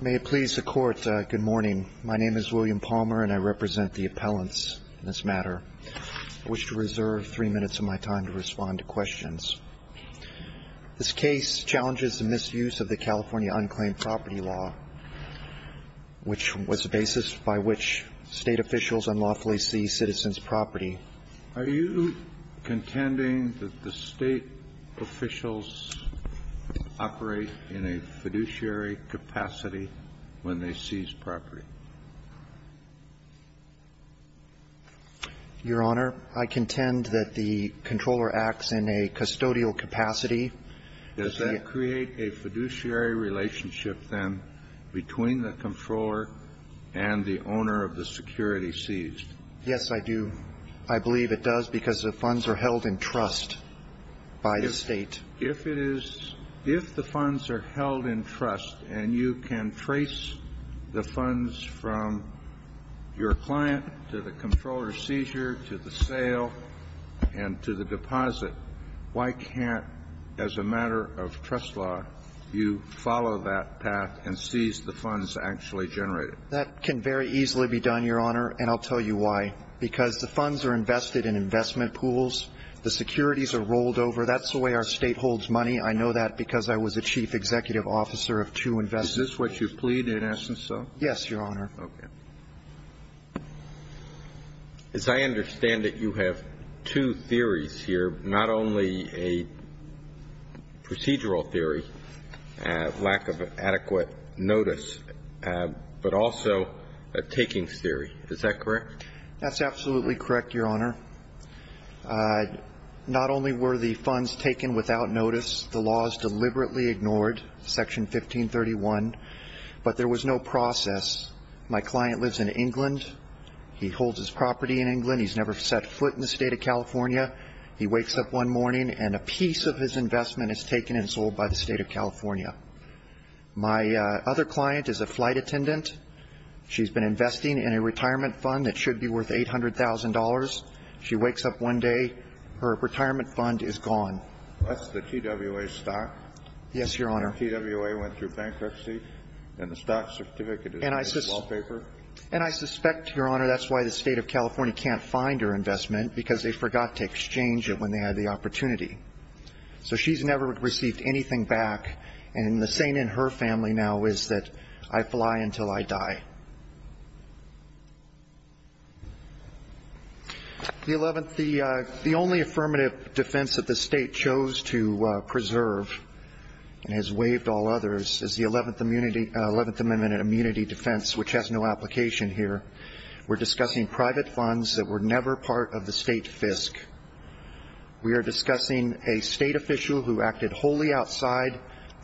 May it please the Court, good morning. My name is William Palmer, and I represent the appellants in this matter. I wish to reserve three minutes of my time to respond to questions. This case challenges the misuse of the California unclaimed property law, which was the basis by which State officials unlawfully seized citizens' property. Are you contending that the State officials operate in a fiduciary capacity when they seize property? Your Honor, I contend that the Comptroller acts in a custodial capacity. Does that create a fiduciary relationship, then, between the Comptroller and the owner of the security seized? Yes, I do. I believe it does, because the funds are held in trust by the State. If it is – if the funds are held in trust, and you can trace the funds from your client to the Comptroller's seizure, to the sale, and to the deposit, why can't, as a matter of trust law, you follow that path and seize the funds actually generated? That can very easily be done, Your Honor, and I'll tell you why. Because the funds are invested in investment pools. The securities are rolled over. That's the way our State holds money. I know that because I was a Chief Executive Officer of two investments. Is this what you plead, in essence, though? Yes, Your Honor. Okay. As I understand it, you have two theories here, not only a procedural theory, lack of adequate notice, but also a takings theory. Is that correct? That's absolutely correct, Your Honor. Not only were the funds taken without notice, the laws deliberately ignored, Section 1531, but there was no process. My client lives in England. He holds his property in England. He's never set foot in the State of California. He wakes up one morning, and a piece of his investment is taken and sold by the State of California. My other client is a flight attendant. She's been investing in a retirement fund that should be worth $800,000. She wakes up one day. Her retirement fund is gone. That's the TWA stock? Yes, Your Honor. And TWA went through bankruptcy, and the stock certificate is in the wallpaper? And I suspect, Your Honor, that's why the State of California can't find her investment, because they forgot to exchange it when they had the opportunity. So she's never received anything back, and the saying in her family now is that I fly until I die. The only affirmative defense that the State chose to preserve and has waived all others is the Eleventh Amendment and immunity defense, which has no application here. We're discussing private funds that were never part of the State FISC. We are discussing a State official who acted wholly outside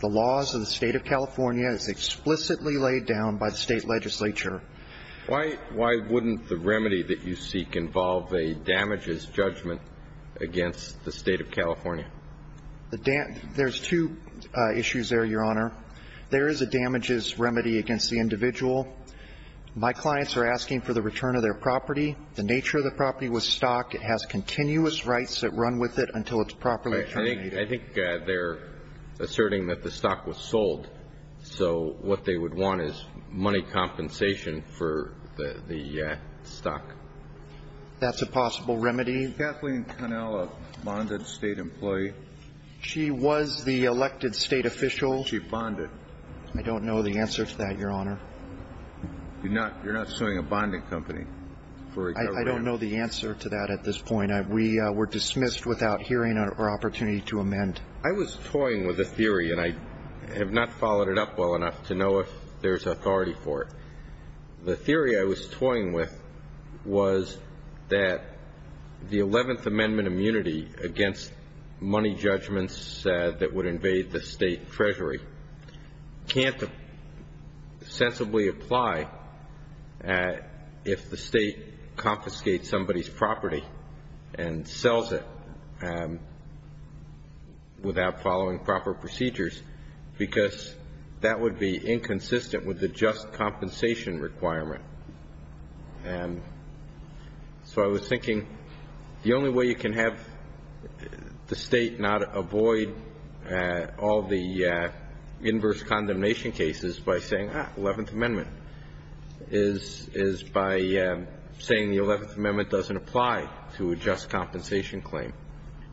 the jurisdiction of the State of California, who was explicitly laid down by the State legislature. Why wouldn't the remedy that you seek involve a damages judgment against the State of California? There's two issues there, Your Honor. There is a damages remedy against the individual. My clients are asking for the return of their property. The nature of the property was stocked. It has continuous rights that run with it until it's properly I think they're asserting that the stock was sold. So what they would want is money compensation for the stock. That's a possible remedy. Is Kathleen Connell a bonded State employee? She was the elected State official. She bonded. I don't know the answer to that, Your Honor. You're not suing a bonding company for a government? I don't know the answer to that at this point. We were dismissed without hearing or opportunity to amend. I was toying with a theory, and I have not followed it up well enough to know if there's authority for it. The theory I was toying with was that the 11th Amendment immunity against money judgments that would invade the State treasury can't sensibly apply if the State confiscates somebody's property and sells it without following proper procedures because that would be inconsistent with the just compensation requirement. So I was thinking the only way you can have the State not avoid all the inverse condemnation cases by saying, ah, 11th Amendment is by saying the 11th Amendment doesn't apply to a just compensation claim.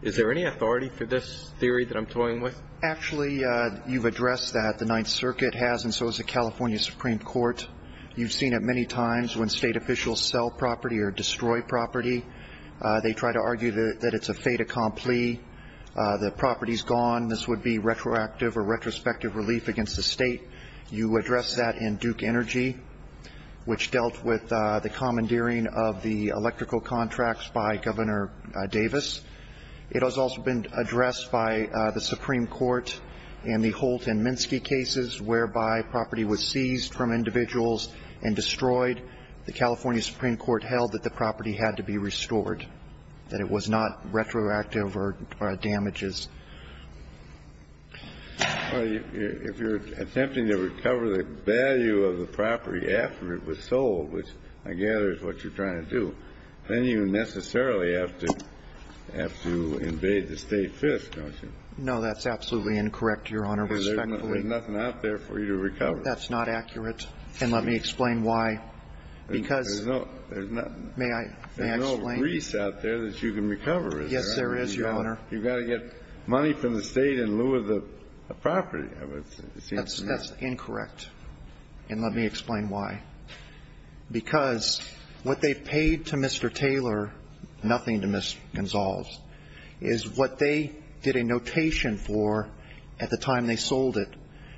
Is there any authority for this theory that I'm toying with? Actually, you've addressed that. The Ninth Circuit has, and so has the California Supreme Court. You've seen it many times when State officials sell property or destroy property. They try to argue that it's a fait accompli. The property's gone. This would be retroactive or retrospective relief against the State. You addressed that in Duke Energy, which dealt with the commandeering of the electrical contracts by Governor Davis. It has also been addressed by the Supreme Court in the Holt and Minsky cases, whereby property was seized from individuals and destroyed. The California Supreme Court held that the property had to be restored, that it was not retroactive or damages. Well, if you're attempting to recover the value of the property after it was sold, which I gather is what you're trying to do, then you necessarily have to invade the State fist, don't you? No, that's absolutely incorrect, Your Honor, respectfully. There's nothing out there for you to recover. That's not accurate. And let me explain why. Because may I explain? There's no grease out there that you can recover, is there? Yes, there is, Your Honor. You've got to get money from the State in lieu of the property. That's incorrect. And let me explain why. Because what they've paid to Mr. Taylor, nothing to Ms. Gonsalves, is what they did a notation for at the time they sold it.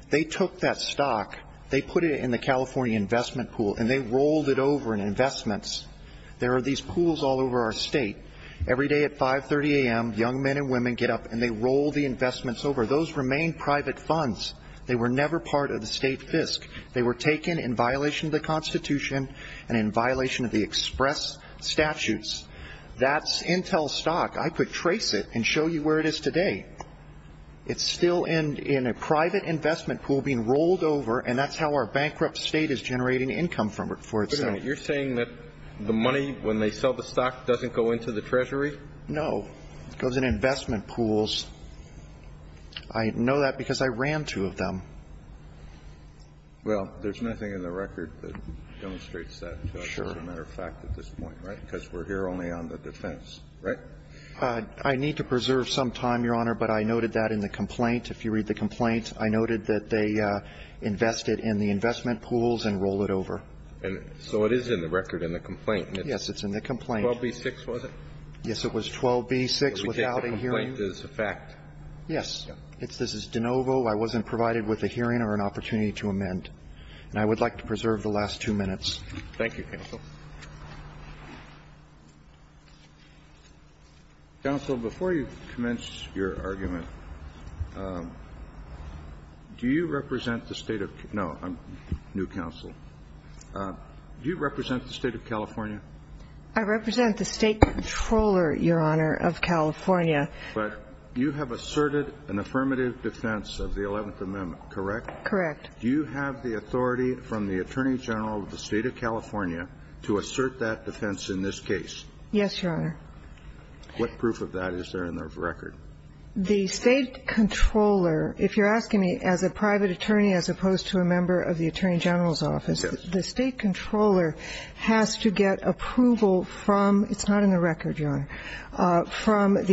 They took that stock, they put it in the California investment pool, and they rolled it over in investments. There are these pools all over our State. Every day at 5.30 a.m., young men and women get up and they roll the investments over. Those remain private funds. They were never part of the State fisc. They were taken in violation of the Constitution and in violation of the express statutes. That's Intel stock. I could trace it and show you where it is today. It's still in a private investment pool being rolled over, and that's how our bankrupt State is generating income for itself. You're saying that the money, when they sell the stock, doesn't go into the Treasury? No. It goes in investment pools. I know that because I ran two of them. Well, there's nothing in the record that demonstrates that, as a matter of fact, at this point, right? Because we're here only on the defense, right? I need to preserve some time, Your Honor, but I noted that in the complaint. If you read the complaint, I noted that they invested in the investment pools and rolled it over. And so it is in the record in the complaint. Yes, it's in the complaint. 12b-6, was it? Yes, it was 12b-6 without a hearing. Because the complaint is a fact. Yes. This is de novo. I wasn't provided with a hearing or an opportunity to amend. And I would like to preserve the last two minutes. Thank you, counsel. Counsel, before you commence your argument, do you represent the State of Kanow, a new counsel, do you represent the State of California? I represent the State Controller, Your Honor, of California. But you have asserted an affirmative defense of the Eleventh Amendment, correct? Correct. Do you have the authority from the Attorney General of the State of California to assert that defense in this case? Yes, Your Honor. What proof of that is there in the record? The State Controller, if you're asking me as a private attorney as opposed to a member of the Attorney General's office, the State Controller has to get approval from the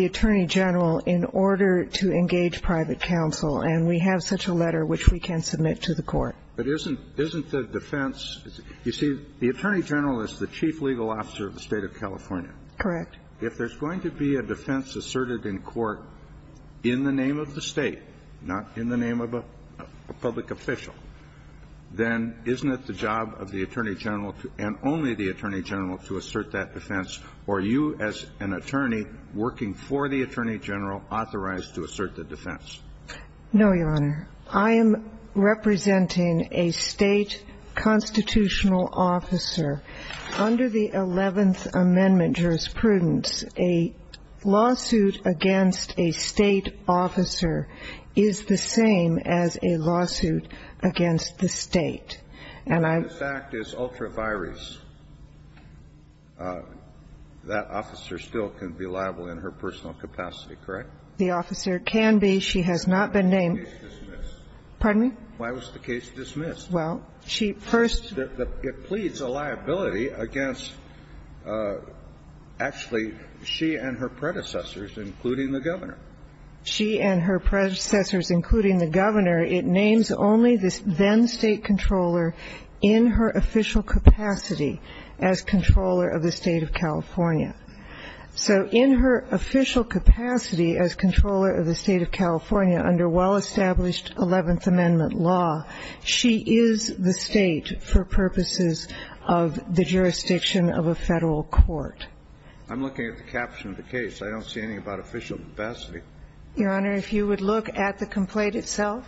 Attorney General in order to engage private counsel. And we have such a letter which we can submit to the court. But isn't the defense, you see, the Attorney General is the chief legal officer of the State of California. Correct. If there's going to be a defense asserted in court in the name of the State, not in the name of a public official, then isn't it the job of the Attorney General and only the Attorney General to assert that defense? Or are you as an attorney working for the Attorney General authorized to assert the defense? No, Your Honor. I am representing a State constitutional officer. Under the Eleventh Amendment jurisprudence, a lawsuit against a State officer is the same as a lawsuit against the State. And I'm the fact is ultra virus. That officer still can be liable in her personal capacity, correct? The officer can be. She has not been named. Pardon me? Why was the case dismissed? Well, she first. It pleads a liability against, actually, she and her predecessors, including the Governor. She and her predecessors, including the Governor. It names only this then State controller in her official capacity as controller of the State of California. So in her official capacity as controller of the State of California under well-established Eleventh Amendment law, she is the State for purposes of the jurisdiction of a Federal court. I'm looking at the caption of the case. I don't see anything about official capacity. Your Honor, if you would look at the complaint itself.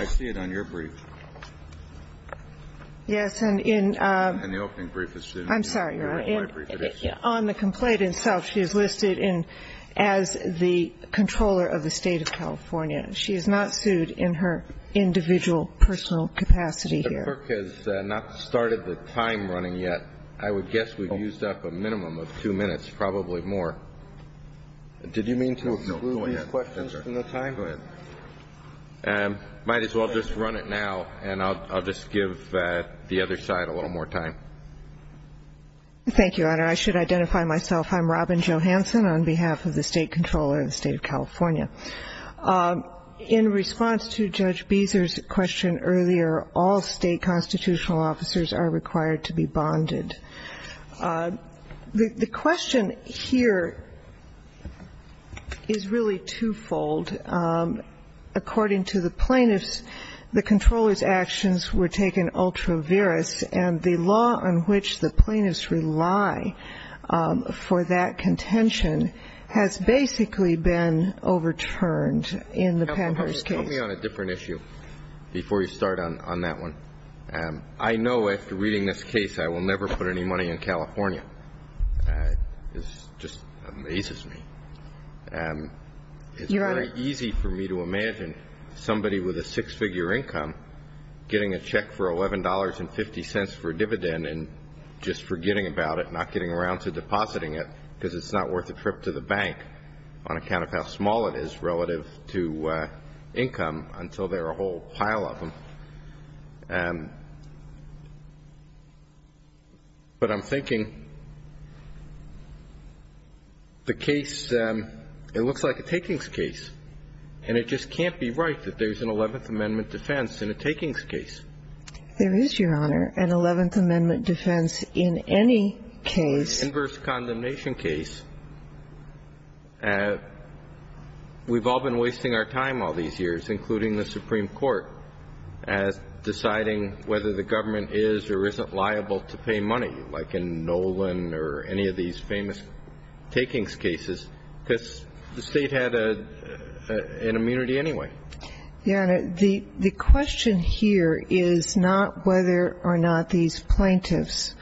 I see it on your brief. Yes. And in the opening brief. I'm sorry, Your Honor. On the complaint itself, she is listed as the controller of the State of California. She is not sued in her individual personal capacity here. The book is not in the State of California. I have not started the time running yet. I would guess we've used up a minimum of two minutes, probably more. Did you mean to exclude these questions from the time? Go ahead. Might as well just run it now, and I'll just give the other side a little more time. Thank you, Your Honor. I should identify myself. I'm Robin Johanson on behalf of the State controller of the State of California. In response to Judge Beezer's question earlier, all State constitutional officers are required to be bonded. The question here is really twofold. According to the plaintiffs, the controller's actions were taken ultra virus, and the law on which the plaintiffs rely for that contention has basically been overturned in the Panhurst case. Help me on a different issue before you start on that one. I know after reading this case I will never put any money in California. It just amazes me. Your Honor. It's very easy for me to imagine somebody with a six-figure income getting a check for $11.50 for a dividend and just forgetting about it, not getting around to depositing it because it's not worth a trip to the bank on account of how small it is relative to income until there are a whole pile of them. But I'm thinking the case, it looks like a takings case, and it just can't be right that there's an Eleventh Amendment defense in a takings case. There is, Your Honor, an Eleventh Amendment defense in any case. In the Panhurst condemnation case, we've all been wasting our time all these years, including the Supreme Court, deciding whether the government is or isn't liable to pay money, like in Nolan or any of these famous takings cases, because the State had an immunity anyway. Your Honor, the question here is not whether or not these plaintiffs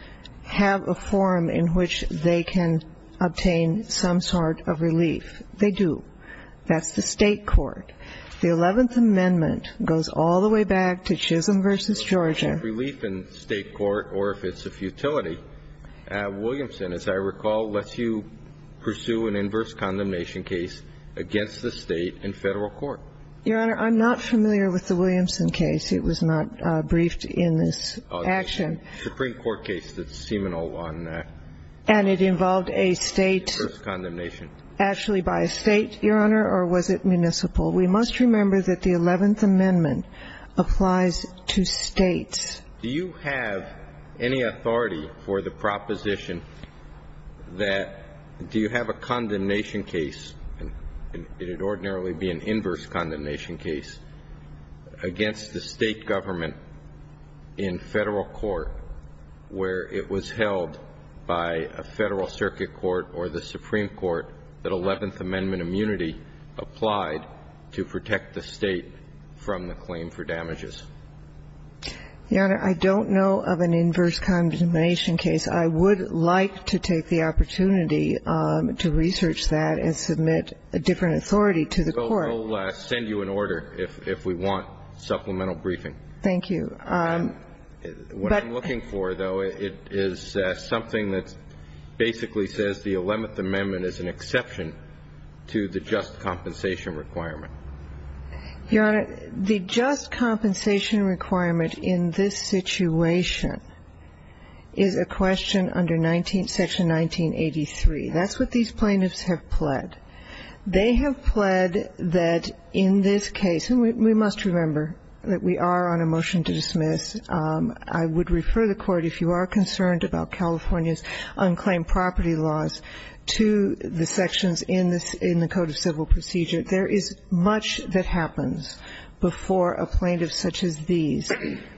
have a forum in which they can obtain some sort of relief. They do. That's the State court. The Eleventh Amendment goes all the way back to Chisholm v. Georgia. If there's relief in State court or if it's a futility, Williamson, as I recall, lets you pursue an inverse condemnation case against the State in Federal court. Your Honor, I'm not familiar with the Williamson case. It was not briefed in this action. Supreme Court case that's seminal on that. And it involved a State. Inverse condemnation. Actually by a State, Your Honor, or was it municipal? We must remember that the Eleventh Amendment applies to States. Do you have any authority for the proposition that do you have a condemnation case, and it would ordinarily be an inverse condemnation case, against the State government in Federal court where it was held by a Federal circuit court or the Supreme Court that Eleventh Amendment immunity applied to protect the State from the claim for damages? Your Honor, I don't know of an inverse condemnation case. I would like to take the opportunity to research that and submit a different authority to the court. I will send you an order if we want supplemental briefing. Thank you. What I'm looking for, though, is something that basically says the Eleventh Amendment is an exception to the just compensation requirement. Your Honor, the just compensation requirement in this situation is a question under section 1983. That's what these plaintiffs have pled. They have pled that in this case, and we must remember that we are on a motion to dismiss. I would refer the Court, if you are concerned about California's unclaimed property laws, to the sections in the Code of Civil Procedure. There is much that happens before a plaintiff such as these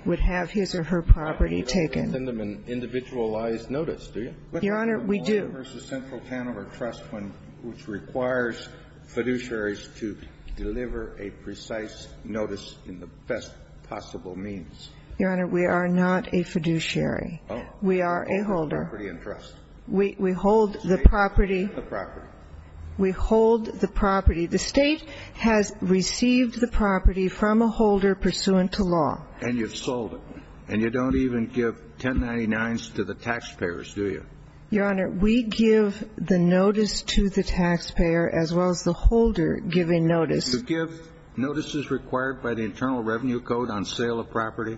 would have his or her property taken. You don't send them an individualized notice, do you? Your Honor, we do. There's a central panel or trust which requires fiduciaries to deliver a precise notice in the best possible means. Your Honor, we are not a fiduciary. Oh. We are a holder. Holder of property and trust. We hold the property. The property. We hold the property. The State has received the property from a holder pursuant to law. And you've sold it. And you don't even give 1099s to the taxpayers, do you? Your Honor, we give the notice to the taxpayer as well as the holder giving notice. Do you give notices required by the Internal Revenue Code on sale of property?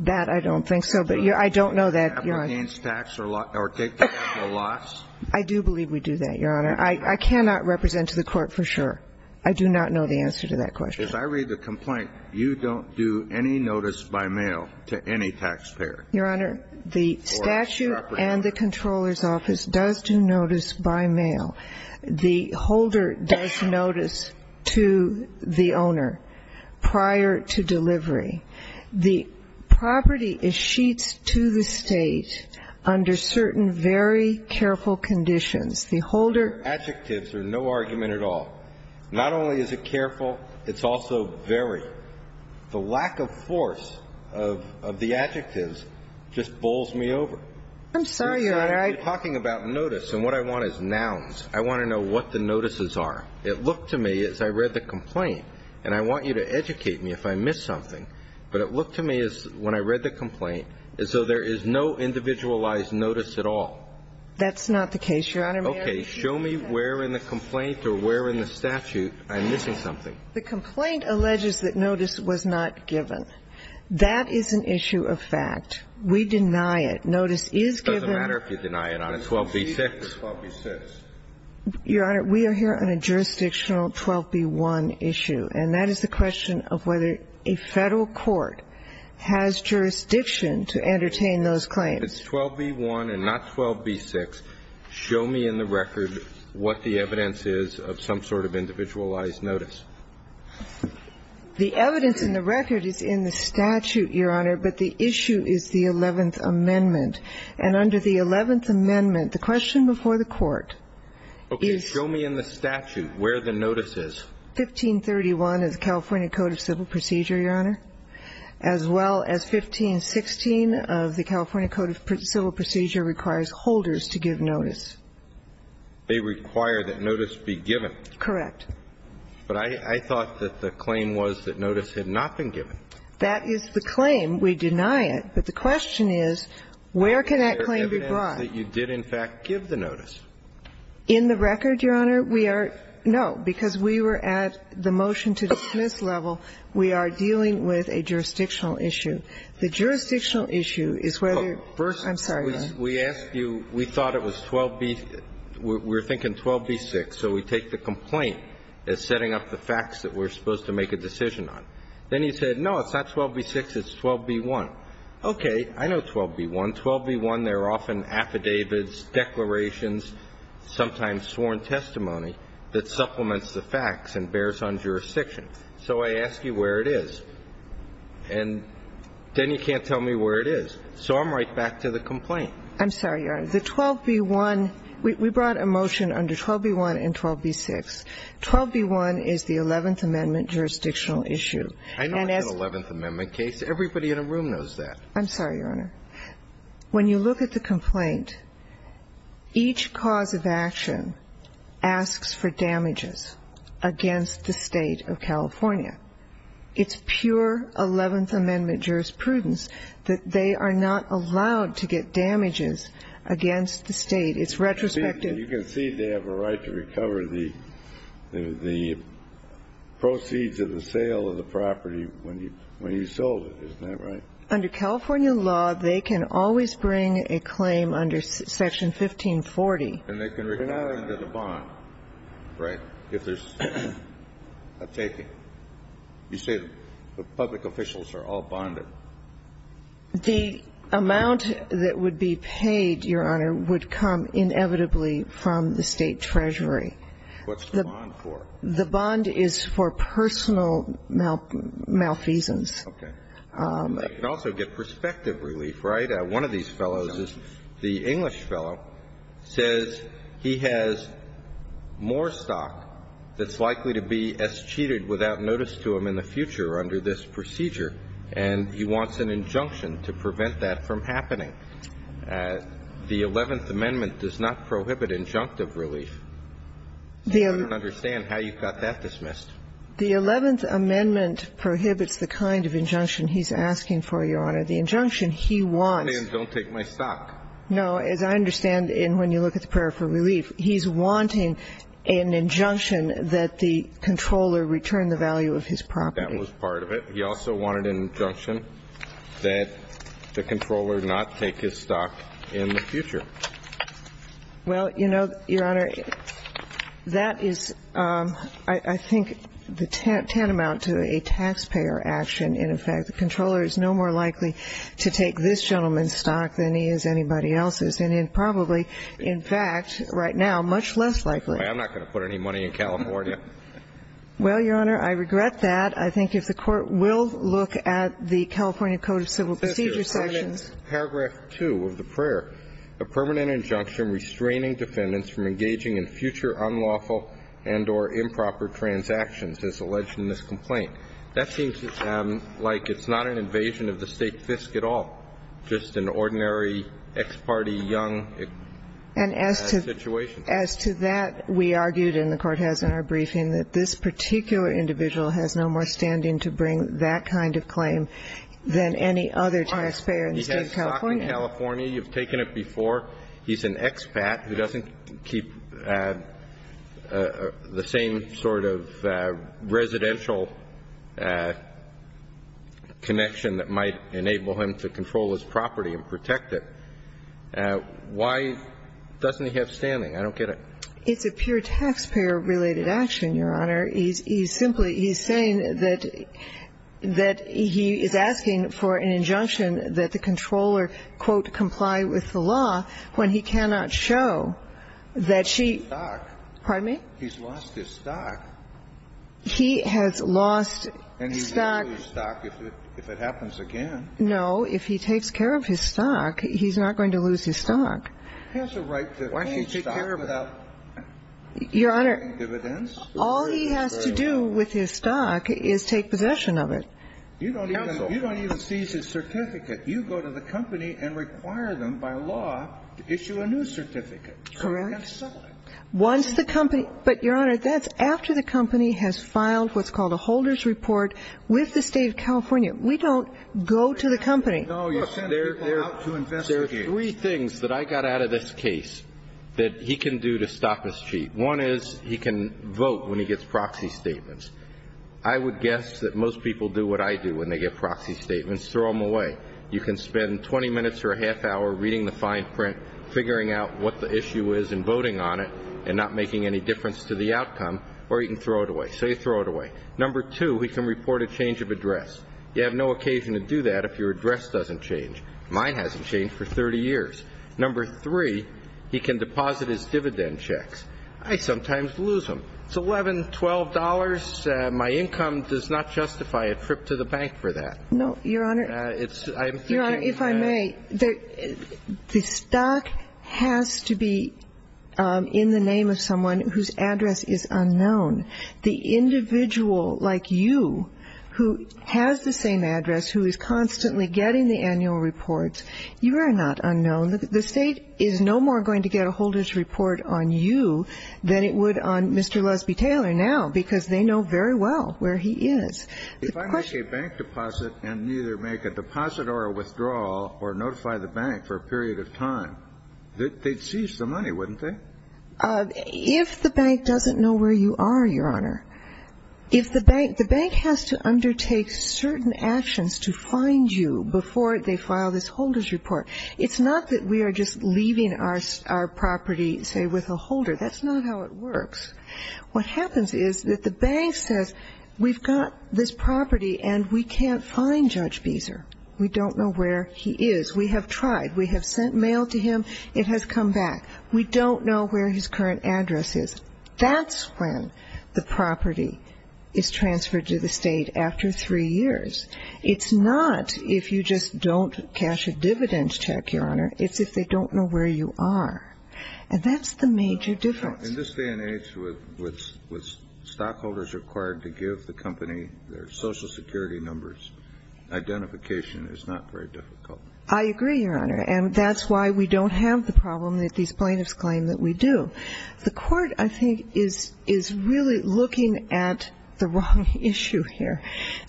That, I don't think so. But I don't know that, Your Honor. Applegain's tax or take that as a loss? I do believe we do that, Your Honor. I cannot represent to the Court for sure. I do not know the answer to that question. If I read the complaint, you don't do any notice by mail to any taxpayer? Your Honor, the statute and the Comptroller's Office does do notice by mail. The holder does notice to the owner prior to delivery. The property is sheets to the State under certain very careful conditions. The holder. Adjectives are no argument at all. Not only is it careful, it's also very. The lack of force of the adjectives just bowls me over. I'm sorry, Your Honor. You're talking about notice. And what I want is nouns. I want to know what the notices are. It looked to me as I read the complaint. And I want you to educate me if I miss something. But it looked to me as when I read the complaint as though there is no individualized notice at all. That's not the case, Your Honor. Okay. Show me where in the complaint or where in the statute I'm missing something. The complaint alleges that notice was not given. That is an issue of fact. We deny it. Notice is given. It doesn't matter if you deny it, Your Honor. It's 12b-6. It's 12b-6. Your Honor, we are here on a jurisdictional 12b-1 issue. And that is the question of whether a Federal court has jurisdiction to entertain those claims. It's 12b-1 and not 12b-6. Show me in the record what the evidence is of some sort of individualized notice. The evidence in the record is in the statute, Your Honor. But the issue is the Eleventh Amendment. And under the Eleventh Amendment, the question before the Court is ---- Okay. Show me in the statute where the notice is. 1531 of the California Code of Civil Procedure, Your Honor, as well as 1516 of the California Code of Civil Procedure requires holders to give notice. They require that notice be given. Correct. But I thought that the claim was that notice had not been given. That is the claim. We deny it. But the question is, where can that claim be brought? Is there evidence that you did, in fact, give the notice? In the record, Your Honor, we are no. Because we were at the motion-to-dismiss level. We are dealing with a jurisdictional issue. The jurisdictional issue is whether ---- First, we asked you we thought it was 12b ---- we're thinking 12b-6. So we take the complaint as setting up the facts that we're supposed to make a decision on. Then you said, no, it's not 12b-6, it's 12b-1. Okay. I know 12b-1. 12b-1, there are often affidavits, declarations, sometimes sworn testimony that supplements the facts and bears on jurisdiction. So I ask you where it is. And then you can't tell me where it is. So I'm right back to the complaint. I'm sorry, Your Honor. The 12b-1 ---- we brought a motion under 12b-1 and 12b-6. 12b-1 is the Eleventh Amendment jurisdictional issue. And as ---- I know it's an Eleventh Amendment case. Everybody in the room knows that. I'm sorry, Your Honor. When you look at the complaint, each cause of action asks for damages against the State of California. It's pure Eleventh Amendment jurisprudence that they are not allowed to get damages against the State. It's retrospective. You can see they have a right to recover the proceeds of the sale of the property when you sold it. Isn't that right? Under California law, they can always bring a claim under Section 1540. And they can recover it under the bond, right, if there's a taking. You say the public officials are all bonded. The amount that would be paid, Your Honor, would come inevitably from the State Treasury. What's the bond for? The bond is for personal malfeasance. Okay. They can also get prospective relief, right? One of these fellows is the English fellow, says he has more stock that's likely to be as cheated without notice to him in the future under this procedure. And he wants an injunction to prevent that from happening. The Eleventh Amendment does not prohibit injunctive relief. I don't understand how you got that dismissed. The Eleventh Amendment prohibits the kind of injunction he's asking for, Your Honor. The injunction he wants. Don't take my stock. No. As I understand, when you look at the prayer for relief, he's wanting an injunction that the controller return the value of his property. That was part of it. He also wanted an injunction that the controller not take his stock in the future. Well, you know, Your Honor, that is, I think, the tantamount to a taxpayer action in effect. The controller is no more likely to take this gentleman's stock than he is anybody else's, and probably, in fact, right now, much less likely. Anyway, I'm not going to put any money in California. Well, Your Honor, I regret that. I think if the Court will look at the California Code of Civil Procedure sections paragraph 2 of the prayer, a permanent injunction restraining defendants from engaging in future unlawful and or improper transactions, as alleged in this complaint. That seems like it's not an invasion of the state fisc at all, just an ordinary ex parte young situation. As to that, we argued, and the Court has in our briefing, that this particular individual has no more standing to bring that kind of claim than any other taxpayer in the State of California. He has stock in California. You've taken it before. He's an expat who doesn't keep the same sort of residential connection that might enable him to control his property and protect it. Why doesn't he have standing? I don't get it. It's a pure taxpayer-related action, Your Honor. He's simply he's saying that he is asking for an injunction that the controller, quote, comply with the law when he cannot show that she. Pardon me? He's lost his stock. He has lost stock. And he will lose stock if it happens again. No. If he takes care of his stock, he's not going to lose his stock. Why should he take care of it? Your Honor, all he has to do with his stock is take possession of it. Counsel. You don't even seize his certificate. You go to the company and require them by law to issue a new certificate. Correct. And sell it. But, Your Honor, that's after the company has filed what's called a holder's report with the State of California. We don't go to the company. No, you send people out to investigate. There are three things that I got out of this case that he can do to stop his cheat. One is he can vote when he gets proxy statements. I would guess that most people do what I do when they get proxy statements, throw them away. You can spend 20 minutes or a half hour reading the fine print, figuring out what the issue is and voting on it and not making any difference to the outcome, or you can throw it away. Say throw it away. Number two, he can report a change of address. You have no occasion to do that if your address doesn't change. Mine hasn't changed for 30 years. Number three, he can deposit his dividend checks. I sometimes lose them. It's $11, $12. My income does not justify a trip to the bank for that. No, Your Honor. Your Honor, if I may, the stock has to be in the name of someone whose address is unknown. The individual like you who has the same address, who is constantly getting the annual reports, you are not unknown. The State is no more going to get a holder's report on you than it would on Mr. Lusby Taylor now because they know very well where he is. If I make a bank deposit and neither make a deposit or a withdrawal or notify the bank for a period of time, they'd seize the money, wouldn't they? If the bank doesn't know where you are, Your Honor, if the bank, the bank has to undertake certain actions to find you before they file this holder's report. It's not that we are just leaving our property, say, with a holder. That's not how it works. What happens is that the bank says we've got this property and we can't find Judge Beezer. We don't know where he is. We have tried. We have sent mail to him. It has come back. We don't know where his current address is. That's when the property is transferred to the State after three years. It's not if you just don't cash a dividend check, Your Honor. It's if they don't know where you are. And that's the major difference. In this day and age with stockholders required to give the company their Social Security numbers, identification is not very difficult. I agree, Your Honor. And that's why we don't have the problem that these plaintiffs claim that we do. The Court, I think, is really looking at the wrong issue here.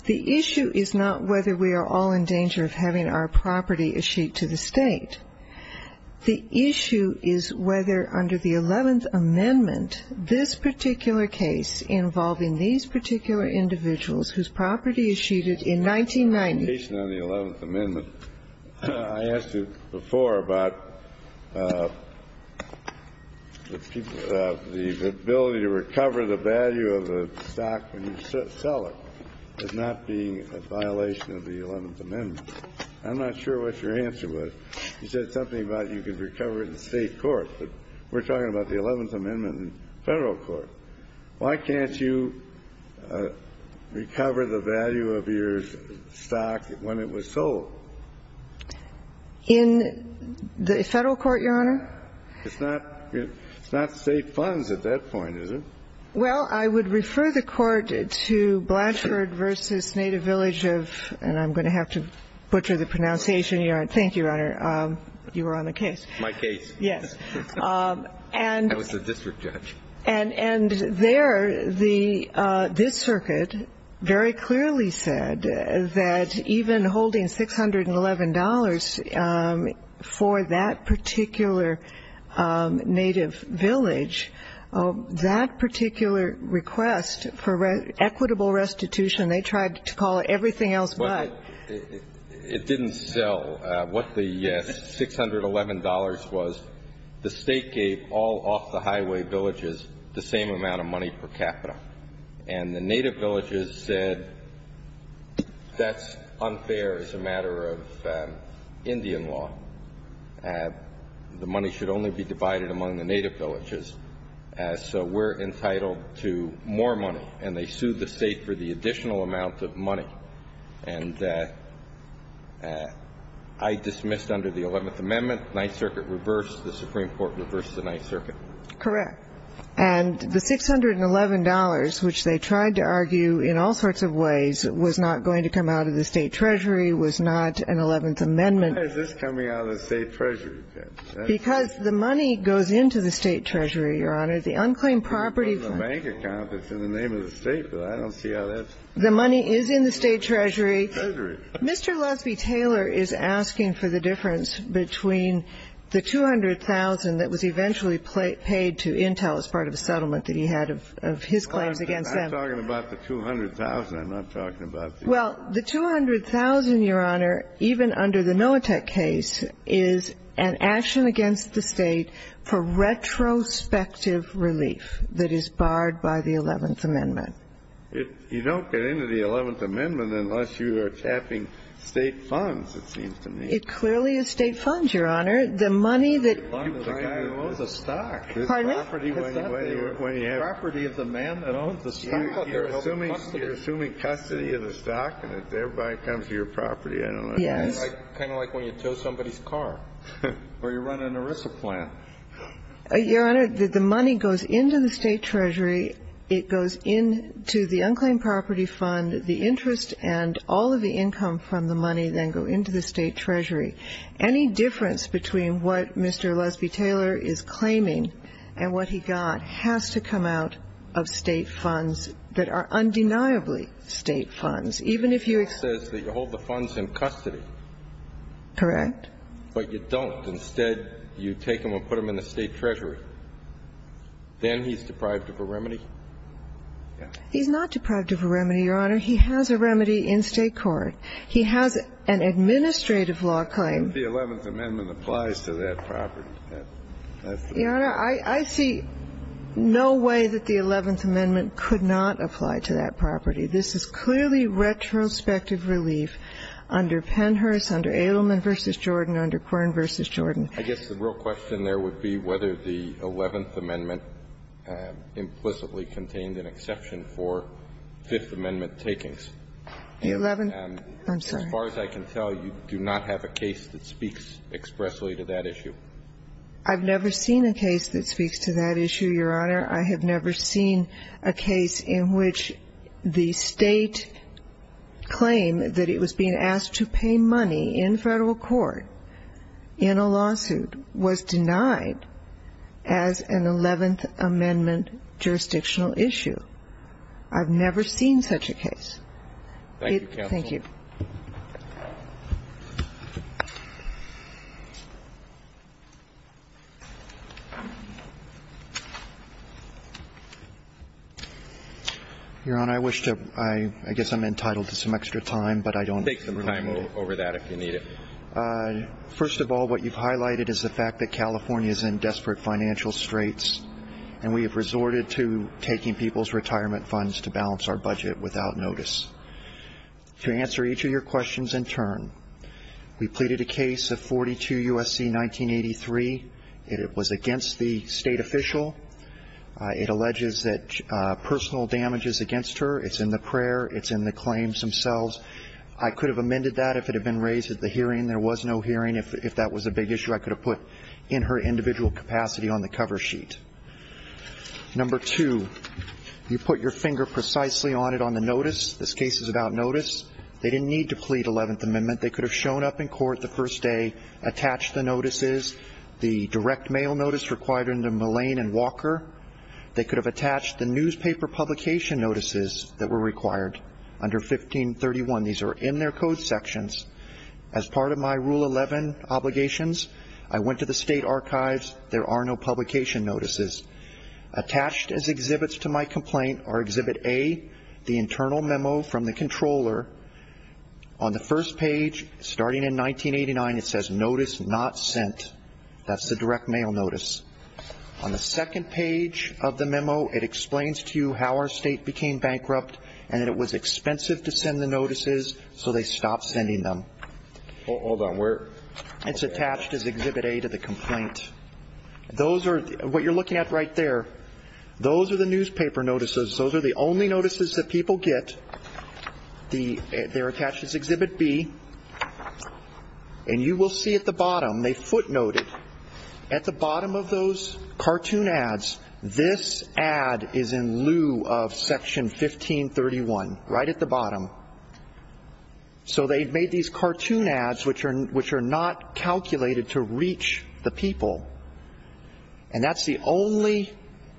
The issue is not whether we are all in danger of having our property eschewed to the State. The issue is whether under the Eleventh Amendment, this particular case involving these particular individuals whose property is eschewed in 1990. In your presentation on the Eleventh Amendment, I asked you before about the ability to recover the value of a stock when you sell it as not being a violation of the Eleventh Amendment. I'm not sure what your answer was. You said something about you could recover it in State court, but we're talking about the Eleventh Amendment in Federal court. Why can't you recover the value of your stock when it was sold? In the Federal court, Your Honor? It's not State funds at that point, is it? Well, I would refer the Court to Blanchard v. Native Village of, and I'm going to have to butcher the pronunciation, Your Honor. Thank you, Your Honor. You were on the case. My case. Yes. I was the district judge. And there, this circuit very clearly said that even holding $611 for that particular Native Village, that particular request for equitable restitution, they tried to call it everything else but. Well, it didn't sell what the $611 was. The State gave all off-the-highway villages the same amount of money per capita. And the Native Villages said that's unfair as a matter of Indian law. The money should only be divided among the Native Villages. So we're entitled to more money. And I dismissed under the Eleventh Amendment, Ninth Circuit reversed. The Supreme Court reversed the Ninth Circuit. Correct. And the $611, which they tried to argue in all sorts of ways, was not going to come out of the State treasury, was not an Eleventh Amendment. Why is this coming out of the State treasury? Because the money goes into the State treasury, Your Honor. The unclaimed property funds. It's in the bank account. It's in the name of the State, but I don't see how that's. The money is in the State treasury. Treasury. Mr. Lusby-Taylor is asking for the difference between the $200,000 that was eventually paid to Intel as part of a settlement that he had of his claims against them. I'm not talking about the $200,000. I'm not talking about the. Well, the $200,000, Your Honor, even under the Noatech case, is an action against the State for retrospective relief that is barred by the Eleventh Amendment. You don't get into the Eleventh Amendment unless you are tapping State funds, it seems to me. It clearly is State funds, Your Honor. The money that. The guy who owns the stock. Pardon me? Property of the man that owns the stock. You're assuming custody of the stock and it thereby comes to your property. I don't know. Yes. Kind of like when you tow somebody's car or you run an ERISA plant. Your Honor, the money goes into the State treasury. It goes into the unclaimed property fund. The interest and all of the income from the money then go into the State treasury. Any difference between what Mr. Lusby-Taylor is claiming and what he got has to come out of State funds that are undeniably State funds. Even if you. It says that you hold the funds in custody. Correct. But you don't. You don't hold the funds. Instead, you take them and put them in the State treasury. Then he's deprived of a remedy? He's not deprived of a remedy, Your Honor. He has a remedy in State court. He has an administrative law claim. The Eleventh Amendment applies to that property. That's the. Your Honor, I see no way that the Eleventh Amendment could not apply to that property. This is clearly retrospective relief under Pennhurst, under Edelman v. Jordan, under Quirin v. Jordan. I guess the real question there would be whether the Eleventh Amendment implicitly contained an exception for Fifth Amendment takings. The Eleventh. I'm sorry. As far as I can tell, you do not have a case that speaks expressly to that issue. I've never seen a case that speaks to that issue, Your Honor. I have never seen a case in which the State claim that it was being asked to pay money in Federal court in a lawsuit was denied as an Eleventh Amendment jurisdictional issue. I've never seen such a case. Thank you, counsel. Thank you. Your Honor, I wish to ‑‑ I guess I'm entitled to some extra time, but I don't have the time. Take some time over that if you need it. First of all, what you've highlighted is the fact that California is in desperate financial straits, and we have resorted to taking people's retirement funds to balance our budget without notice. To answer each of your questions in turn, we pleaded a case of 42 U.S.C. 1983. It was against the State official. It alleges that personal damage is against her. It's in the prayer. It's in the claims themselves. I could have amended that if it had been raised at the hearing. There was no hearing. If that was a big issue, I could have put in her individual capacity on the cover sheet. Number two, you put your finger precisely on it on the notice. This case is about notice. They didn't need to plead 11th Amendment. They could have shown up in court the first day, attached the notices, the direct mail notice required under Mullane and Walker. They could have attached the newspaper publication notices that were required under 1531. These are in their code sections. As part of my Rule 11 obligations, I went to the State archives. There are no publication notices. Attached as exhibits to my complaint are Exhibit A, the internal memo from the controller. On the first page, starting in 1989, it says, Notice Not Sent. That's the direct mail notice. On the second page of the memo, it explains to you how our State became bankrupt and that it was expensive to send the notices, so they stopped sending them. Hold on, where? It's attached as Exhibit A to the complaint. Those are, what you're looking at right there, those are the newspaper notices. Those are the only notices that people get. They're attached as Exhibit B. And you will see at the bottom, they footnote it. At the bottom of those cartoon ads, this ad is in lieu of Section 1531, right at the bottom. So they made these cartoon ads which are not calculated to reach the people. And that's the only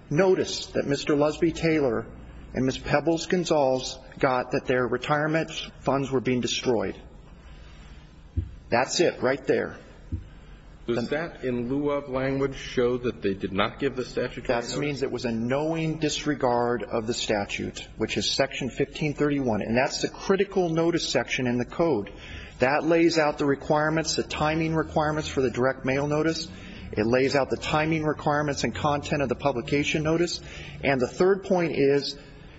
notice that Mr. Lusby Taylor and Ms. Pebbles-Gonzalez got that their retirement funds were being destroyed. That's it right there. And that in lieu of language shows that they did not give the statutory notice? That means it was a knowing disregard of the statute, which is Section 1531. And that's the critical notice section in the code. That lays out the requirements, the timing requirements for the direct mail notice. It lays out the timing requirements and content of the publication notice. And the third point is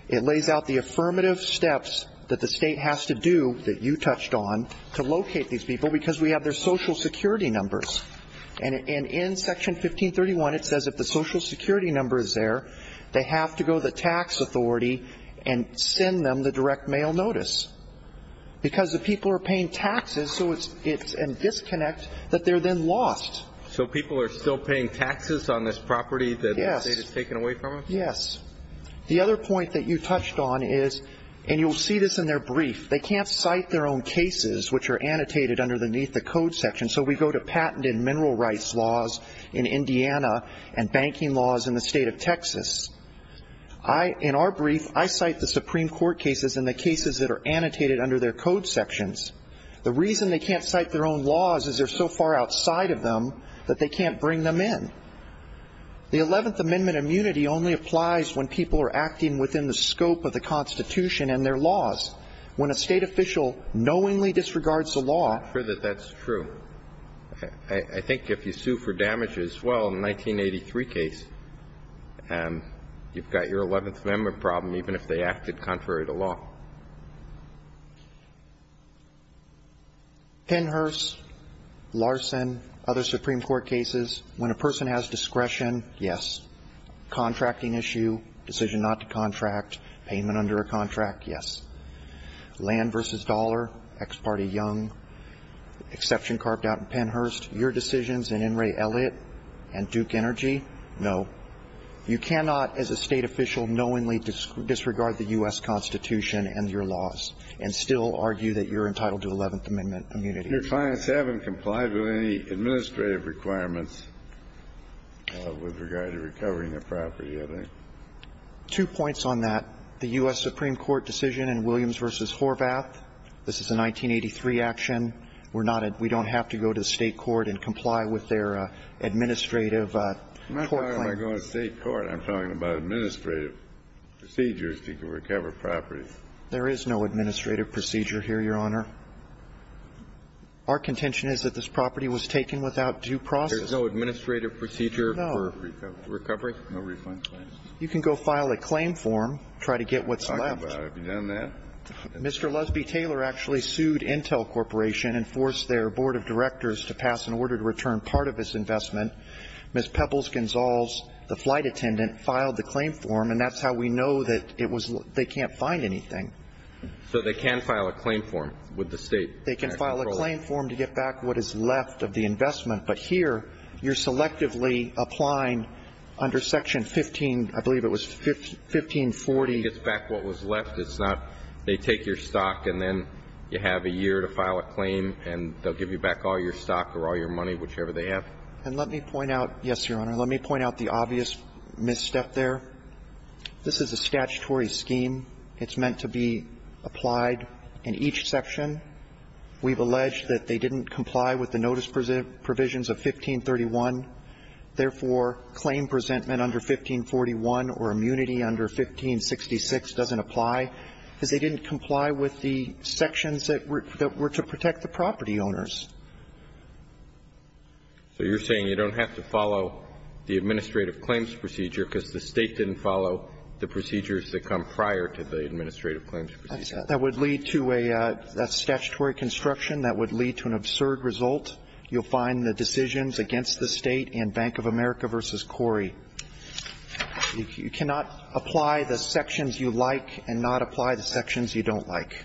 it lays out the affirmative steps that the State has to do, that you touched on, to locate these people because we have their Social Security numbers. And in Section 1531, it says if the Social Security number is there, they have to go to the tax authority and send them the direct mail notice because the people are paying taxes. So it's a disconnect that they're then lost. So people are still paying taxes on this property that the State has taken away from them? Yes. The other point that you touched on is, and you'll see this in their brief, they can't cite their own cases which are annotated underneath the code section. So we go to patent and mineral rights laws in Indiana and banking laws in the State of Texas. In our brief, I cite the Supreme Court cases and the cases that are annotated under their code sections. The reason they can't cite their own laws is they're so far outside of them that they can't bring them in. The 11th Amendment immunity only applies when people are acting within the scope of the Constitution and their laws. When a State official knowingly disregards the law. I'm sure that that's true. I think if you sue for damages, well, in the 1983 case, you've got your 11th Amendment problem even if they acted contrary to law. Pennhurst, Larson, other Supreme Court cases, when a person has discretion, yes. Contracting issue, decision not to contract, payment under a contract, yes. Land v. Dollar, ex parte Young, exception carved out in Pennhurst, your decisions in Enray Elliott and Duke Energy, no. You cannot as a State official knowingly disregard the U.S. Constitution and your laws and still argue that you're entitled to 11th Amendment immunity. Your clients haven't complied with any administrative requirements with regard to recovering their property, have they? Two points on that. The U.S. Supreme Court decision in Williams v. Horvath. This is a 1983 action. We're not at – we don't have to go to the State court and comply with their administrative court claim. I'm not talking about going to the State court. I'm talking about administrative procedures to recover property. There is no administrative procedure here, Your Honor. Our contention is that this property was taken without due process. There's no administrative procedure for recovery? No. No refund claims? You can go file a claim form, try to get what's left. I'm talking about, have you done that? Mr. Lusby-Taylor actually sued Intel Corporation and forced their board of directors to pass an order to return part of his investment. Ms. Pebbles-Gonzales, the flight attendant, filed the claim form, and that's how we know that it was – they can't find anything. So they can file a claim form with the State? They can file a claim form to get back what is left of the investment. But here, you're selectively applying under Section 15, I believe it was 1540. It gets back what was left. It's not they take your stock and then you have a year to file a claim and they'll give you back all your stock or all your money, whichever they have. And let me point out – yes, Your Honor. Let me point out the obvious misstep there. This is a statutory scheme. It's meant to be applied in each section. We've alleged that they didn't comply with the notice provisions of 1531. Therefore, claim presentment under 1541 or immunity under 1566 doesn't apply because they didn't comply with the sections that were to protect the property owners. So you're saying you don't have to follow the administrative claims procedure because the State didn't follow the procedures that come prior to the administrative claims procedure? That would lead to a – that's statutory construction. That would lead to an absurd result. You'll find the decisions against the State in Bank of America v. Corey. You cannot apply the sections you like and not apply the sections you don't like.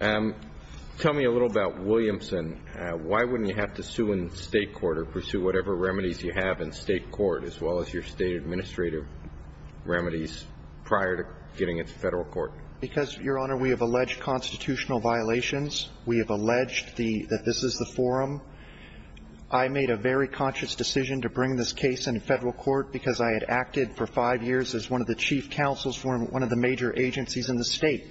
Tell me a little about Williamson. Why wouldn't you have to sue in State court or pursue whatever remedies you have in State court as well as your State administrative remedies prior to getting it to Federal court? Because, Your Honor, we have alleged constitutional violations. We have alleged the – that this is the forum. I made a very conscious decision to bring this case into Federal court because I had acted for five years as one of the chief counsels for one of the major agencies in the State.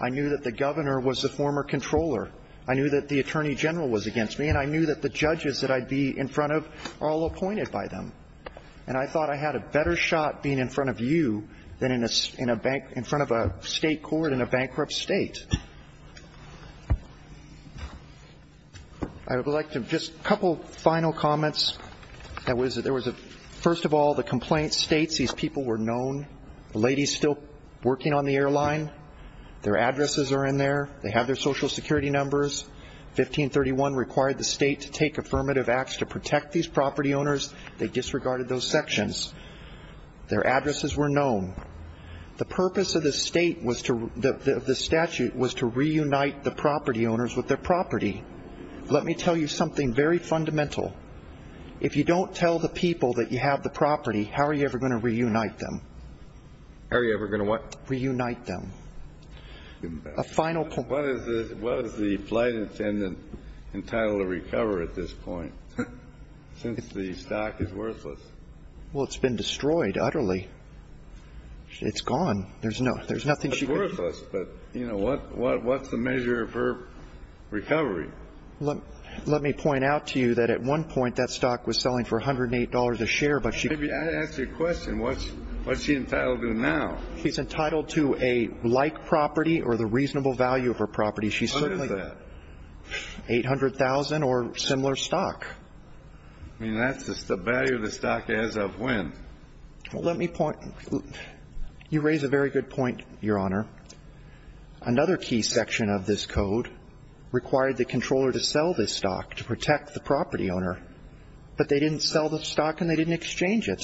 I knew that the governor was the former controller. I knew that the attorney general was against me. And I knew that the judges that I'd be in front of are all appointed by them. And I thought I had a better shot being in front of you than in front of a State court in a bankrupt State. I would like to – just a couple final comments. There was a – first of all, the complaint states these people were known. The lady is still working on the airline. Their addresses are in there. They have their Social Security numbers. 1531 required the State to take affirmative acts to protect these property owners. They disregarded those sections. Their addresses were known. The purpose of the State was to – of the statute was to reunite the property owners with their property. Let me tell you something very fundamental. If you don't tell the people that you have the property, how are you ever going to reunite them? How are you ever going to what? Reunite them. A final point. What is the flight attendant entitled to recover at this point? Since the stock is worthless. Well, it's been destroyed utterly. It's gone. There's nothing she could – It's worthless, but, you know, what's the measure for recovery? Let me point out to you that at one point that stock was selling for $108 a share, but she – Maybe I should ask you a question. What's she entitled to now? She's entitled to a like property or the reasonable value of her property. What is that? $800,000 or similar stock. I mean, that's the value of the stock as of when? Well, let me point – you raise a very good point, Your Honor. Another key section of this code required the controller to sell this stock to protect the property owner, but they didn't sell the stock and they didn't exchange it,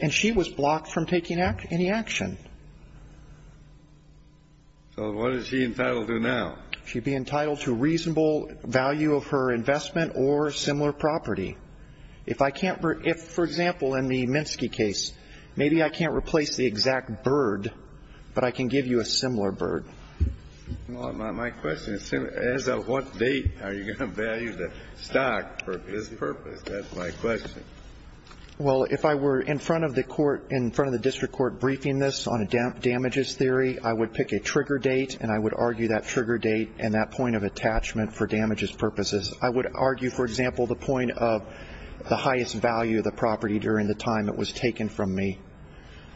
and she was blocked from taking any action. So what is she entitled to now? She'd be entitled to reasonable value of her investment or similar property. If I can't – if, for example, in the Minsky case, maybe I can't replace the exact bird, but I can give you a similar bird. My question is, as of what date are you going to value the stock for this purpose? That's my question. Well, if I were in front of the court – in front of the district court briefing this on a damages theory, I would pick a trigger date and I would argue that trigger date and that point of attachment for damages purposes. I would argue, for example, the point of the highest value of the property during the time it was taken from me.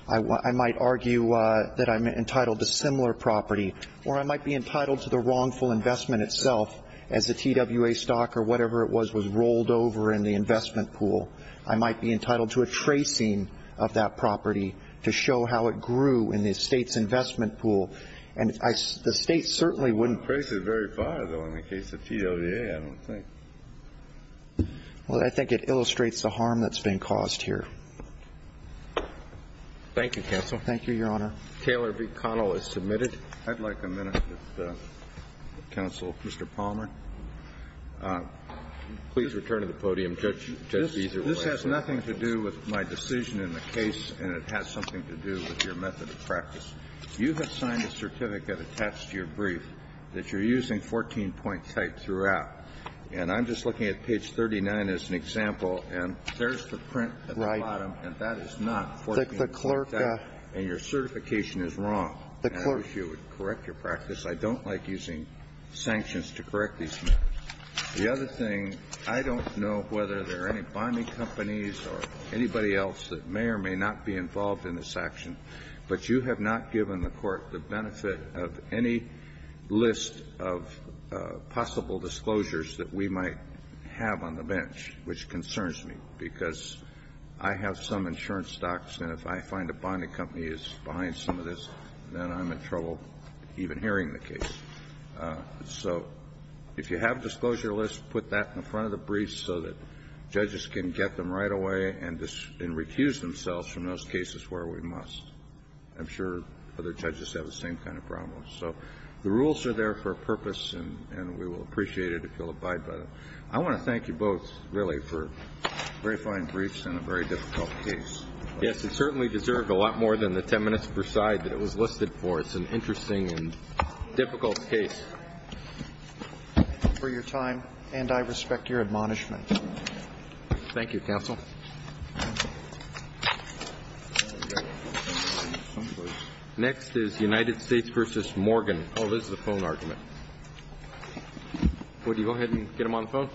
I might argue that I'm entitled to similar property, or I might be entitled to the wrongful investment itself as the TWA stock or whatever it was was rolled over in the investment pool. I might be entitled to a tracing of that property to show how it grew in the State's investment pool. And the State certainly wouldn't – It traces very far, though, in the case of TWA, I don't think. Well, I think it illustrates the harm that's been caused here. Thank you, counsel. Thank you, Your Honor. Taylor v. Connell is submitted. I'd like a minute with counsel, Mr. Palmer. Please return to the podium, Judge. This has nothing to do with my decision in the case, and it has something to do with your method of practice. You have signed a certificate attached to your brief that you're using 14-point type throughout. And I'm just looking at page 39 as an example, and there's the print at the bottom, and that is not 14-point type, and your certification is wrong. And I wish you would correct your practice. I don't like using sanctions to correct these matters. The other thing, I don't know whether there are any bonding companies or anybody else that may or may not be involved in this action, but you have not given the Court the benefit of any list of possible disclosures that we might have on the bench, which concerns me, because I have some insurance stocks, and if I find a bonding company is behind some of this, then I'm in trouble even hearing the case. So if you have a disclosure list, put that in front of the brief so that judges can get them right away and refuse themselves from those cases where we must. I'm sure other judges have the same kind of problem. So the rules are there for a purpose, and we will appreciate it if you'll abide by them. I want to thank you both, really, for verifying briefs in a very difficult case. Yes, it certainly deserved a lot more than the 10 minutes per side that it was listed for. It's an interesting and difficult case. For your time, and I respect your admonishment. Thank you, counsel. Next is United States v. Morgan. Oh, this is a phone argument. Would you go ahead and get them on the phone?